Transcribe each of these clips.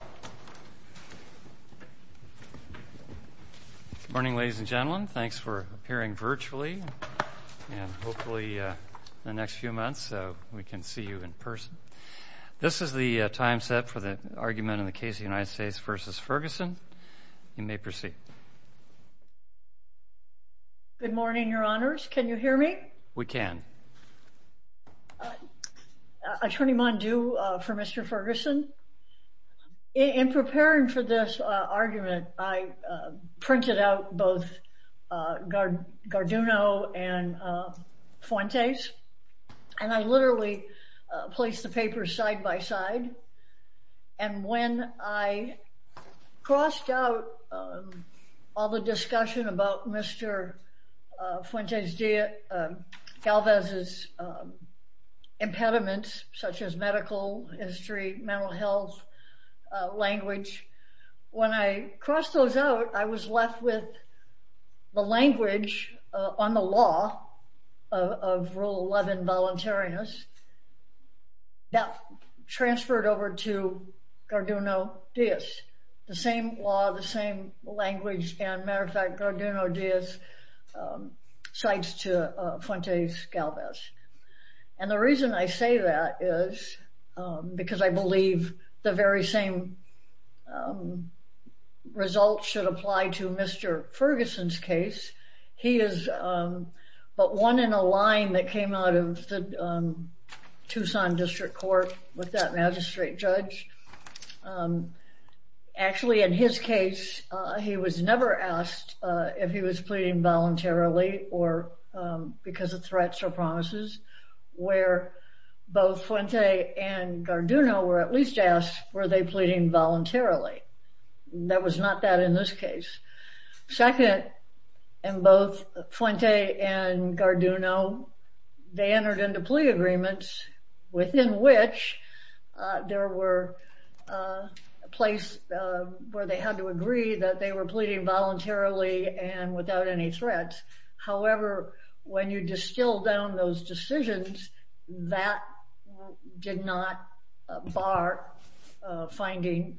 Good morning, ladies and gentlemen. Thanks for appearing virtually and hopefully in the next few months we can see you in person. This is the time set for the argument in the case of the United States v. Ferguson. You may proceed. Good morning, Your Honors. Can you hear me? We can. Attorney Mondew for Mr. Ferguson. In preparing for this argument, I printed out both Garduno and Fuentes, and I literally placed the papers side by side. And when I crossed out all the impediments, such as medical history, mental health, language, when I crossed those out, I was left with the language on the law of Rule 11, voluntariness, that transferred over to Garduno-Diaz. The same law, the same language, and matter of fact, Garduno-Diaz cites to Fuentes-Galvez. And the reason I say that is because I believe the very same results should apply to Mr. Ferguson's case. He is but one in a line that came out of the Tucson District Court with that magistrate judge. Actually, in his case, he was never asked if he was pleading voluntarily or because of threats or promises, where both Fuentes and Garduno were at least asked, were they pleading voluntarily? That was not that in this case. Second, in both Fuentes and Garduno, they entered into plea agreements within which there were a place where they had to agree that they were pleading voluntarily and without any threats. However, when you distill down those decisions, that did not bar finding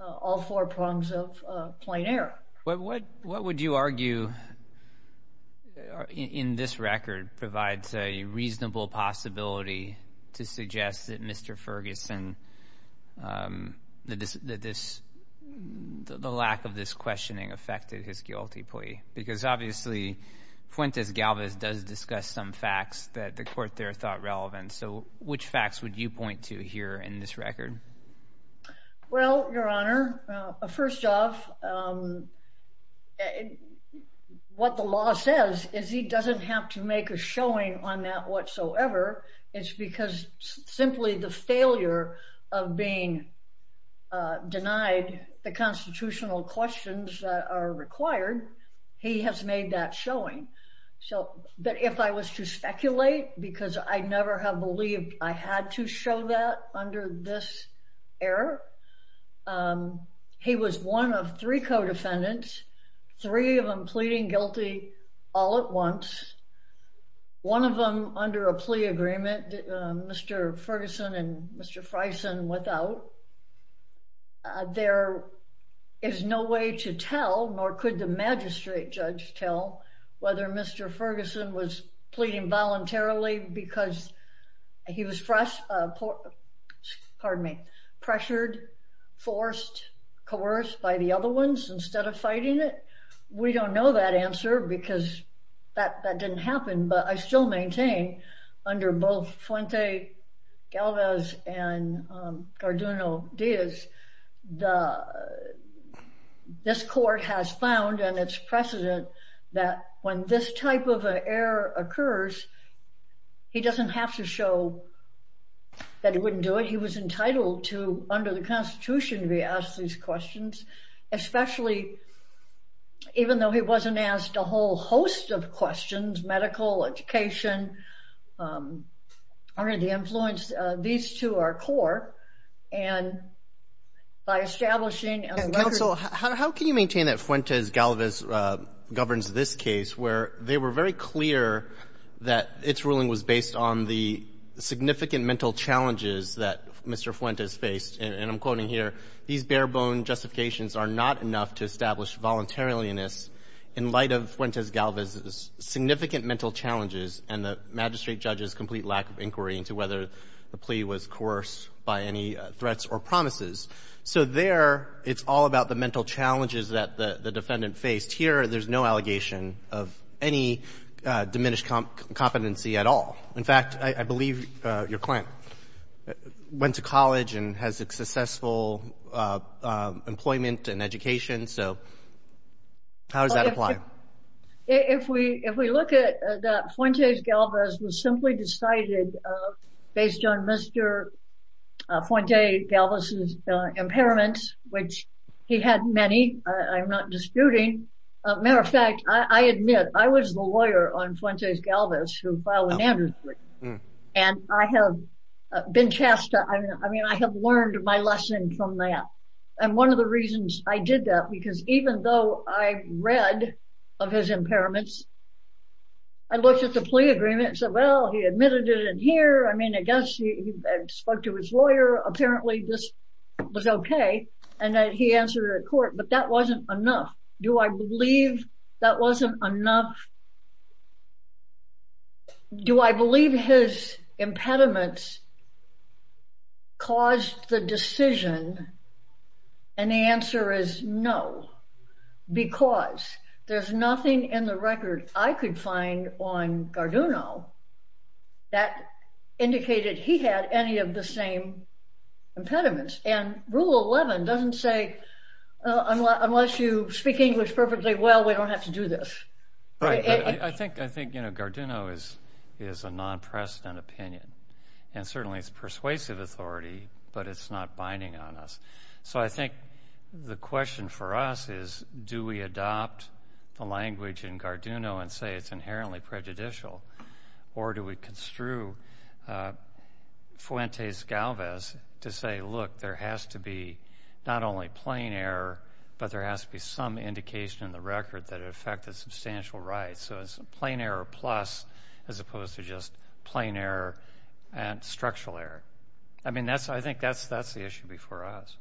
all four prongs of plain air. What would you argue in this record provides a reasonable possibility to suggest that Mr. Ferguson, that the lack of this questioning affected his guilty plea? Because obviously, Fuentes-Galvez does discuss some facts that the court there thought relevant. So which facts would you point to here in this record? Well, Your Honor, first off, what the law says is he doesn't have to make a showing on that whatsoever. It's because simply the failure of being denied the constitutional questions that are required, he has made that showing. But if I was to speculate, because I never have believed I had to show that under this error, he was one of three co-defendants, three of them pleading guilty all at once, one of them under a plea agreement, Mr. Ferguson and Mr. Freisen without. There is no way to tell, nor could the magistrate judge tell, whether Mr. Ferguson was pleading forced, coerced by the other ones instead of fighting it. We don't know that answer, because that didn't happen. But I still maintain under both Fuentes-Galvez and Cardinal Diaz, this court has found, and it's precedent, that when this type of error occurs, he doesn't have to show that he wouldn't do it. He was entitled to, under the Constitution, to be asked these questions, especially even though he wasn't asked a whole host of questions, medical, education, under the influence. These two are core. And by establishing... And counsel, how can you maintain that Fuentes-Galvez governs this case where they were very clear that its ruling was based on the significant mental challenges that Mr. Fuentes faced? And I'm quoting here, these bare-bone justifications are not enough to establish voluntariliness in light of Fuentes-Galvez's significant mental challenges and the magistrate judge's complete lack of inquiry into whether the plea was coerced by any threats or promises. So there, it's all about the mental challenges that the defendant faced. Here, there's no allegation of any diminished competency at all. In fact, I believe your client went to college and has a successful employment and education. So how does that apply? Well, if we look at that Fuentes-Galvez was simply decided based on Mr. Fuentes-Galvez's impairments, which he had many, I'm not disputing. Matter of fact, I admit, I was the lawyer on Fuentes-Galvez who filed an amnesty. And I have been tasked to... I mean, I have learned my lesson from that. And one of the reasons I did that, because even though I read of his impairments, I looked at the plea agreement and said, well, he admitted it in here. I mean, I guess he spoke to his lawyer. Apparently this was okay. And then he answered it in court, but that wasn't enough. Do I believe that wasn't enough? Do I believe his impediments caused the decision? And the answer is no, because there's nothing in the record I could find on Garduno that indicated he had any of the same impediments. And Rule 11 doesn't say, unless you speak English perfectly well, we don't have to do this. Right. I think Garduno is a non-precedent opinion. And certainly it's persuasive authority, but it's not binding on us. So I think the question for us is, do we adopt the language in Garduno and say it's inherently prejudicial? Or do we construe Fuentes-Galvez to say, look, there has to be not only plain error, but there has to be some indication in the record that it affected substantial rights. So it's plain error plus, as opposed to just plain error and structural error. I mean, I think that's the issue before us.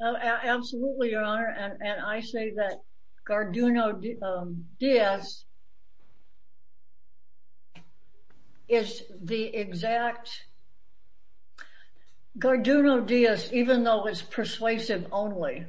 Absolutely, Your Honor. And I say that Garduno-Diaz is the exact... Garduno-Diaz, even though it's persuasive only,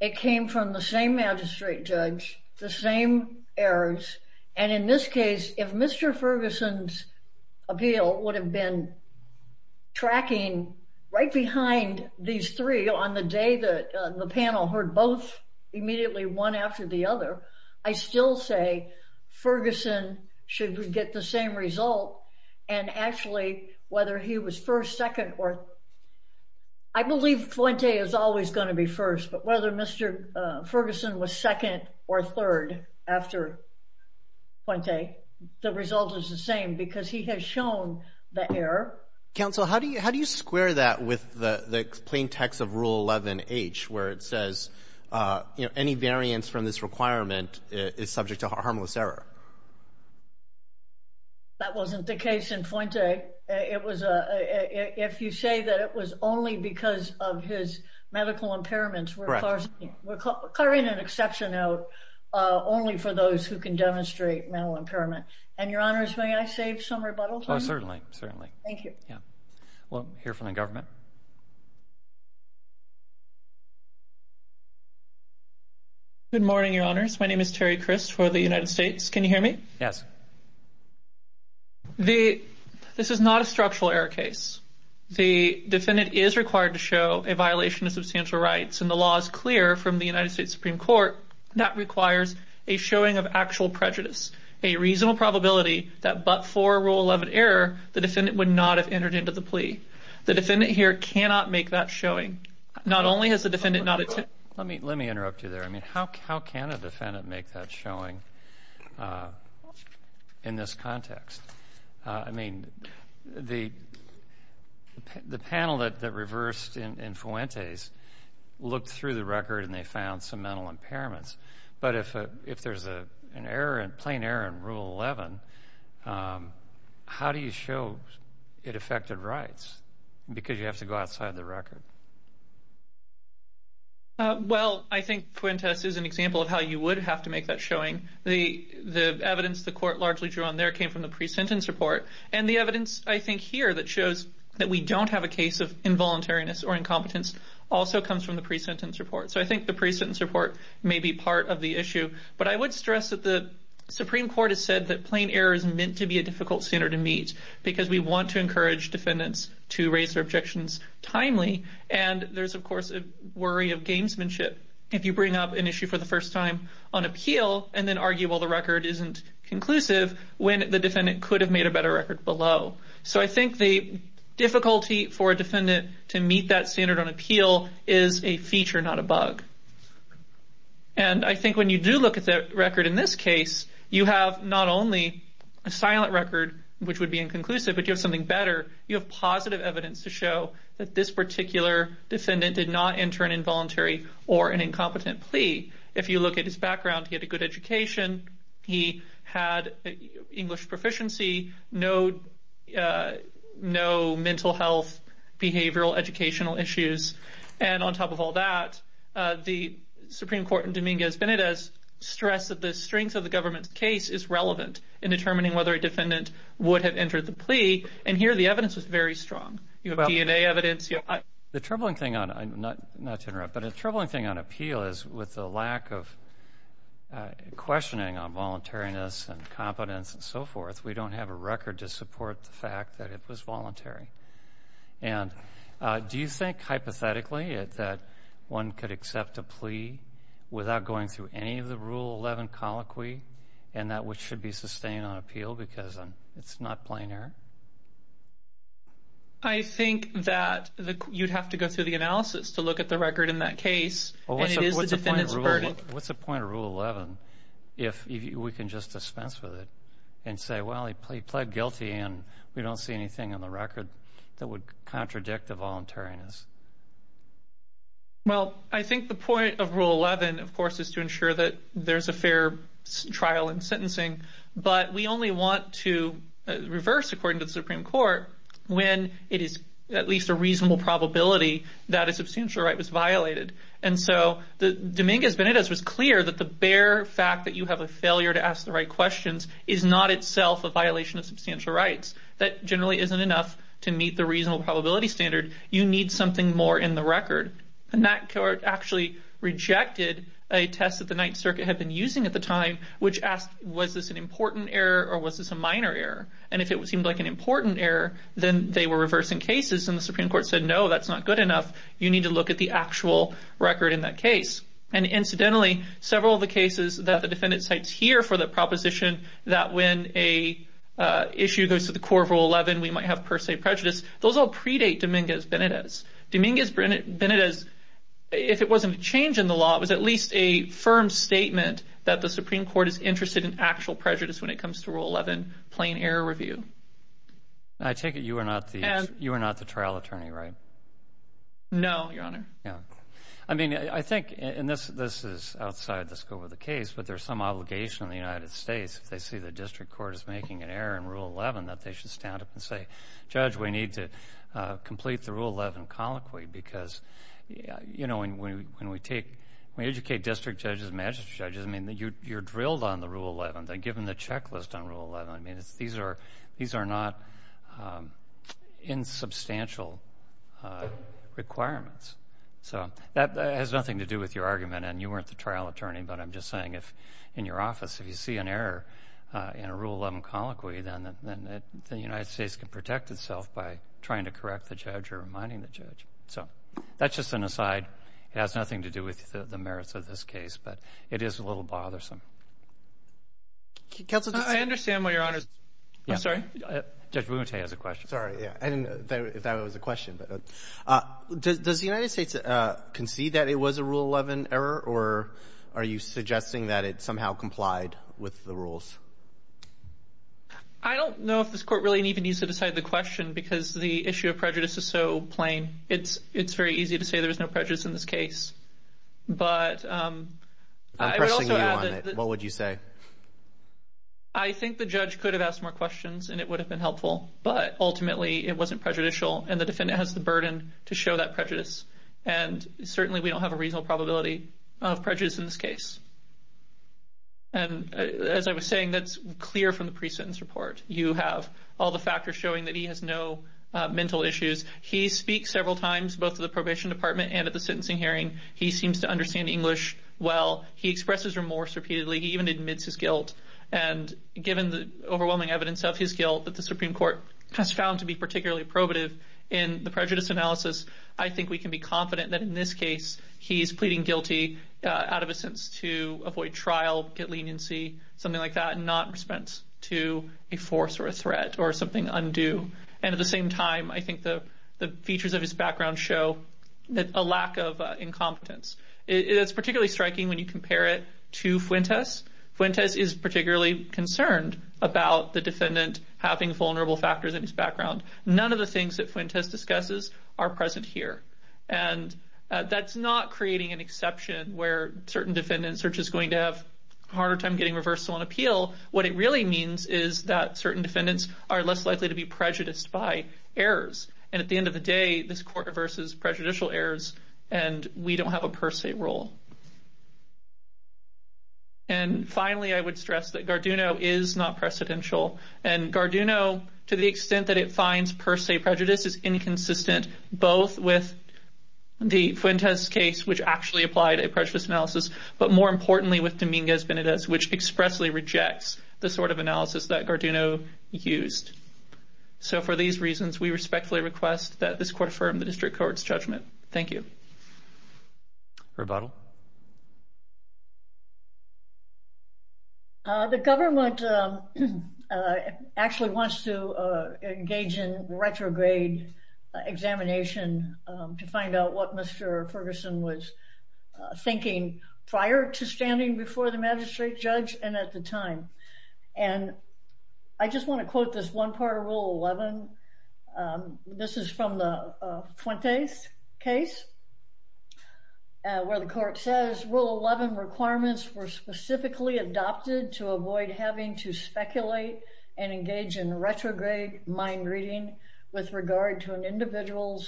it came from the same magistrate judge, the same errors. And in this case, if Mr. Ferguson's appeal would have been tracking right behind these three on the day that the panel heard both immediately one after the other, I still say Ferguson should get the same result. And actually, whether he was first, second, or... I believe Fuente is always going to be first, but whether Mr. Ferguson was second or third after Fuente, the result is the same because he has shown the error. Counsel, how do you square that with the plain text of Rule 11-H, where it says, any variance from this requirement is subject to harmless error? That wasn't the case in Fuente. If you say that it was only because of his medical impairments, we're clearing an exception out only for those who can demonstrate mental impairment. And Your Honors, may I save some rebuttals? Oh, certainly, certainly. Thank you. Yeah. We'll hear from the government. Good morning, Your Honors. My name is Terry Crist for the United States. Can you hear me? Yes. This is not a structural error case. The defendant is required to show a violation of substantial rights, and the law is clear from the United States Supreme Court that requires a showing of actual prejudice, a reasonable probability that but for Rule 11 error, the defendant would not have entered into the plea. The defendant here cannot make that showing. Not only has the defendant not... Let me interrupt you there. I mean, how can a defendant make that showing in this context? I mean, the panel that reversed in but if there's a plain error in Rule 11, how do you show it affected rights? Because you have to go outside the record. Well, I think Fuentes is an example of how you would have to make that showing. The evidence the court largely drew on there came from the pre-sentence report, and the evidence I think here that shows that we don't have a case of involuntariness or maybe part of the issue. But I would stress that the Supreme Court has said that plain error is meant to be a difficult standard to meet because we want to encourage defendants to raise their objections timely. And there's, of course, a worry of gamesmanship if you bring up an issue for the first time on appeal and then argue, well, the record isn't conclusive when the defendant could have made a better record below. So I think the difficulty for a defendant to meet that standard on appeal is a feature, not a bug. And I think when you do look at the record in this case, you have not only a silent record, which would be inconclusive, but you have something better. You have positive evidence to show that this particular defendant did not enter an involuntary or an incompetent plea. If you look at his background, he had a good education. He had English proficiency, no mental health, behavioral, educational issues. And on top of all that, the Supreme Court in Dominguez-Benedez stressed that the strength of the government's case is relevant in determining whether a defendant would have entered the plea. And here the evidence is very strong. You have DNA evidence. The troubling thing on, not to interrupt, but a troubling thing on appeal is with the lack of questioning on voluntariness and competence and so forth, we don't have a record to support the fact that it was voluntary. And do you think hypothetically that one could accept a plea without going through any of the Rule 11 colloquy and that which should be sustained on appeal because it's not plain error? I think that you'd have to go through the analysis to look at the point of Rule 11 if we can just dispense with it and say, well, he pled guilty and we don't see anything on the record that would contradict the voluntariness. Well, I think the point of Rule 11, of course, is to ensure that there's a fair trial and sentencing, but we only want to reverse according to the Supreme Court when it is at least a reasonable probability that a bare fact that you have a failure to ask the right questions is not itself a violation of substantial rights. That generally isn't enough to meet the reasonable probability standard. You need something more in the record. And that court actually rejected a test that the Ninth Circuit had been using at the time, which asked, was this an important error or was this a minor error? And if it seemed like an important error, then they were reversing cases and the Supreme Court said, no, that's not good enough. You need to look at the actual record in that several of the cases that the defendant cites here for the proposition that when a issue goes to the core of Rule 11, we might have per se prejudice. Those all predate Dominguez-Benedez. Dominguez-Benedez, if it wasn't a change in the law, it was at least a firm statement that the Supreme Court is interested in actual prejudice when it comes to Rule 11 plain error review. I take it you are not the trial attorney, right? No, Your Honor. I mean, I think, and this is outside the scope of the case, but there's some obligation in the United States if they see the district court is making an error in Rule 11 that they should stand up and say, Judge, we need to complete the Rule 11 colloquy because, you know, when we educate district judges, magistrate judges, I mean, you're drilled on the Rule 11. They give them the requirements. So that has nothing to do with your argument, and you weren't the trial attorney, but I'm just saying if in your office, if you see an error in a Rule 11 colloquy, then the United States can protect itself by trying to correct the judge or reminding the judge. So that's just an aside. It has nothing to do with the merits of this case, but it is a little bothersome. Counsel, I understand why Your Honor's... Yeah. I'm sorry? Judge Womate has a question. Sorry, yeah. I didn't know if that was a question, but does the United States concede that it was a Rule 11 error, or are you suggesting that it somehow complied with the rules? I don't know if this court really even needs to decide the question because the issue of prejudice is so plain. It's very easy to say there was no prejudice in this case, but... I'm pressing you on it. What would you say? I think the judge could have asked more questions and it would have been helpful, but ultimately it wasn't prejudicial and the defendant has the burden to show that prejudice. And certainly we don't have a reasonable probability of prejudice in this case. And as I was saying, that's clear from the pre-sentence report. You have all the factors showing that he has no mental issues. He speaks several times, both to the probation department and at the sentencing hearing. He seems to understand English well. He expresses remorse repeatedly. He even admits his guilt. And given the overwhelming evidence of his guilt that the Supreme Court has found to be particularly probative in the prejudice analysis, I think we can be confident that in this case he's pleading guilty out of a sense to avoid trial, get leniency, something like that, and not respond to a force or a threat or something undue. And at the same time, I think the features of his background show that a lack of incompetence. It's particularly striking when you compare it to Fuentes. Fuentes is particularly concerned about the defendant having vulnerable factors in his background. None of the things that Fuentes discusses are present here. And that's not creating an exception where certain defendants are just going to have a harder time getting reversal on appeal. What it really means is that certain defendants are less likely to be prejudiced by errors. And at the end of the day, this court reverses prejudicial errors and we don't have a per se rule. And finally, I would stress that Garduno is not precedential. And Garduno, to the extent that it finds per se prejudice, is inconsistent both with the Fuentes case, which actually applied a prejudice analysis, but more importantly with Dominguez-Benedez, which expressly rejects the sort of analysis that Garduno used. So for these reasons, we respectfully request that this court affirm the district court's judgment. Thank you. Rebuttal. The government actually wants to engage in retrograde examination to find out what Mr. Ferguson was thinking prior to standing before the magistrate judge and at the time. And I just rule 11 requirements were specifically adopted to avoid having to speculate and engage in retrograde mind reading with regard to an individual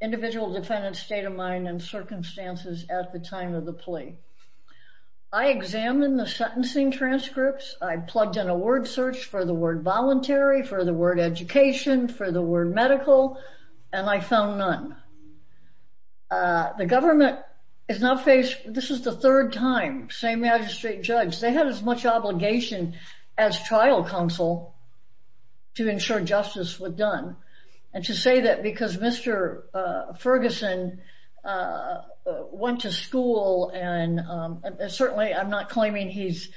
defendant's state of mind and circumstances at the time of the plea. I examined the sentencing transcripts. I plugged in a word search for the word voluntary, for the word education, for the word medical, and I found none. The government has not faced, this is the third time, same magistrate judge, they had as much obligation as trial counsel to ensure justice was done. And to say that because Mr. Ferguson went to school, and certainly I'm not claiming he's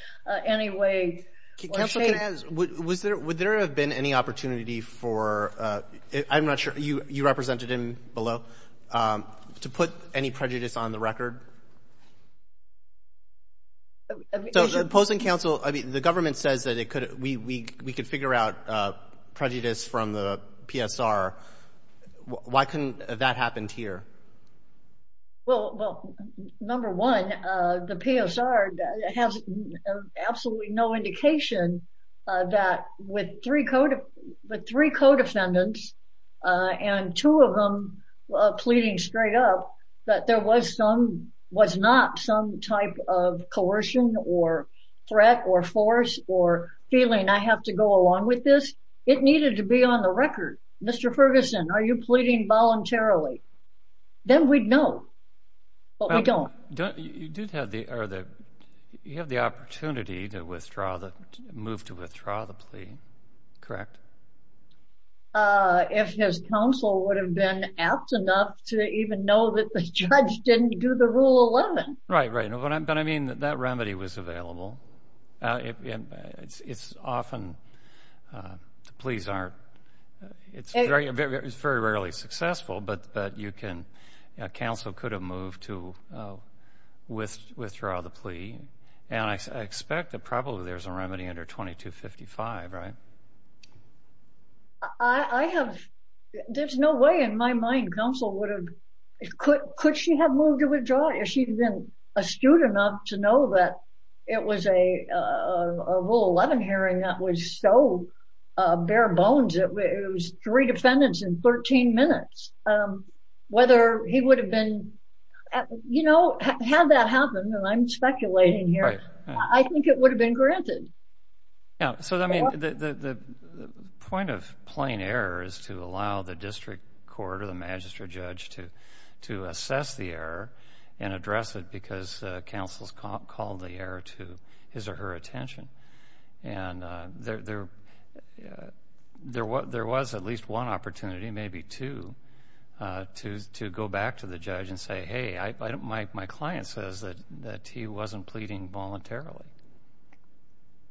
any way... Can I ask, would there have been any opportunity for, I'm not sure, you represented him below, to put any prejudice on the record? So the opposing counsel, I mean, the government says that we could figure out prejudice from the PSR. Why couldn't that happen here? Well, number one, the PSR has absolutely no indication that with three co-defendants, and two of them pleading straight up that there was some, was not some type of coercion or threat or force or feeling, I have to go along with this. It needed to be on the record. Mr. Ferguson, are you pleading voluntarily? Then we'd know, but we don't. You have the opportunity to withdraw, the move to withdraw the plea, correct? If his counsel would have been apt enough to even know that the judge didn't do the Rule 11. Right, right. But I mean, that remedy was available. It's often, the pleas aren't, it's very rarely successful, but you can, counsel could have moved to withdraw the plea. And I expect that probably there's a remedy under 2255, right? I have, there's no way in my mind counsel would have, could she have moved to withdraw if she'd been astute enough to know that it was a Rule 11 hearing that was so bare bones, it was three defendants in 13 minutes. Whether he would have been, you know, had that happened, and I'm speculating here, I think it would have been granted. Yeah, so I mean, the point of plain error is to allow the district court or the magistrate judge to assess the error and address it because counsel's called the error to his or her attention. And there was at least one voluntarily.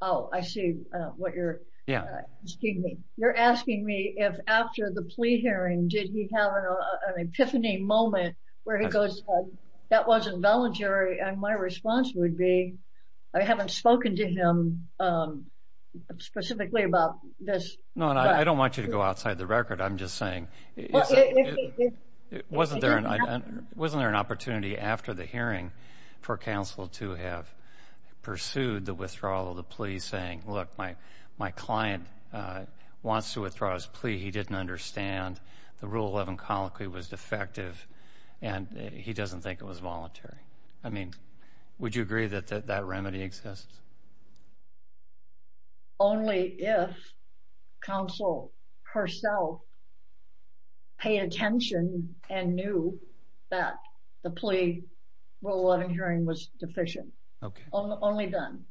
Oh, I see what you're, yeah, excuse me. You're asking me if after the plea hearing, did he have an epiphany moment where he goes, that wasn't voluntary. And my response would be, I haven't spoken to him specifically about this. No, I don't want you to go outside the record. I'm just saying, wasn't there an opportunity after the hearing for counsel to have pursued the withdrawal of the plea saying, look, my client wants to withdraw his plea. He didn't understand the Rule 11 colloquy was defective. And he doesn't think it was voluntary. I mean, would you agree that that remedy exists? Only if counsel herself paid attention and knew that the plea Rule 11 hearing was deficient. Okay. Only then.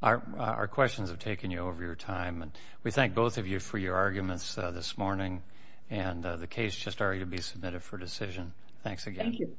Our questions have taken you over your time. And we thank both of you for your arguments this morning. And the case just started to be submitted for decision. Thanks again.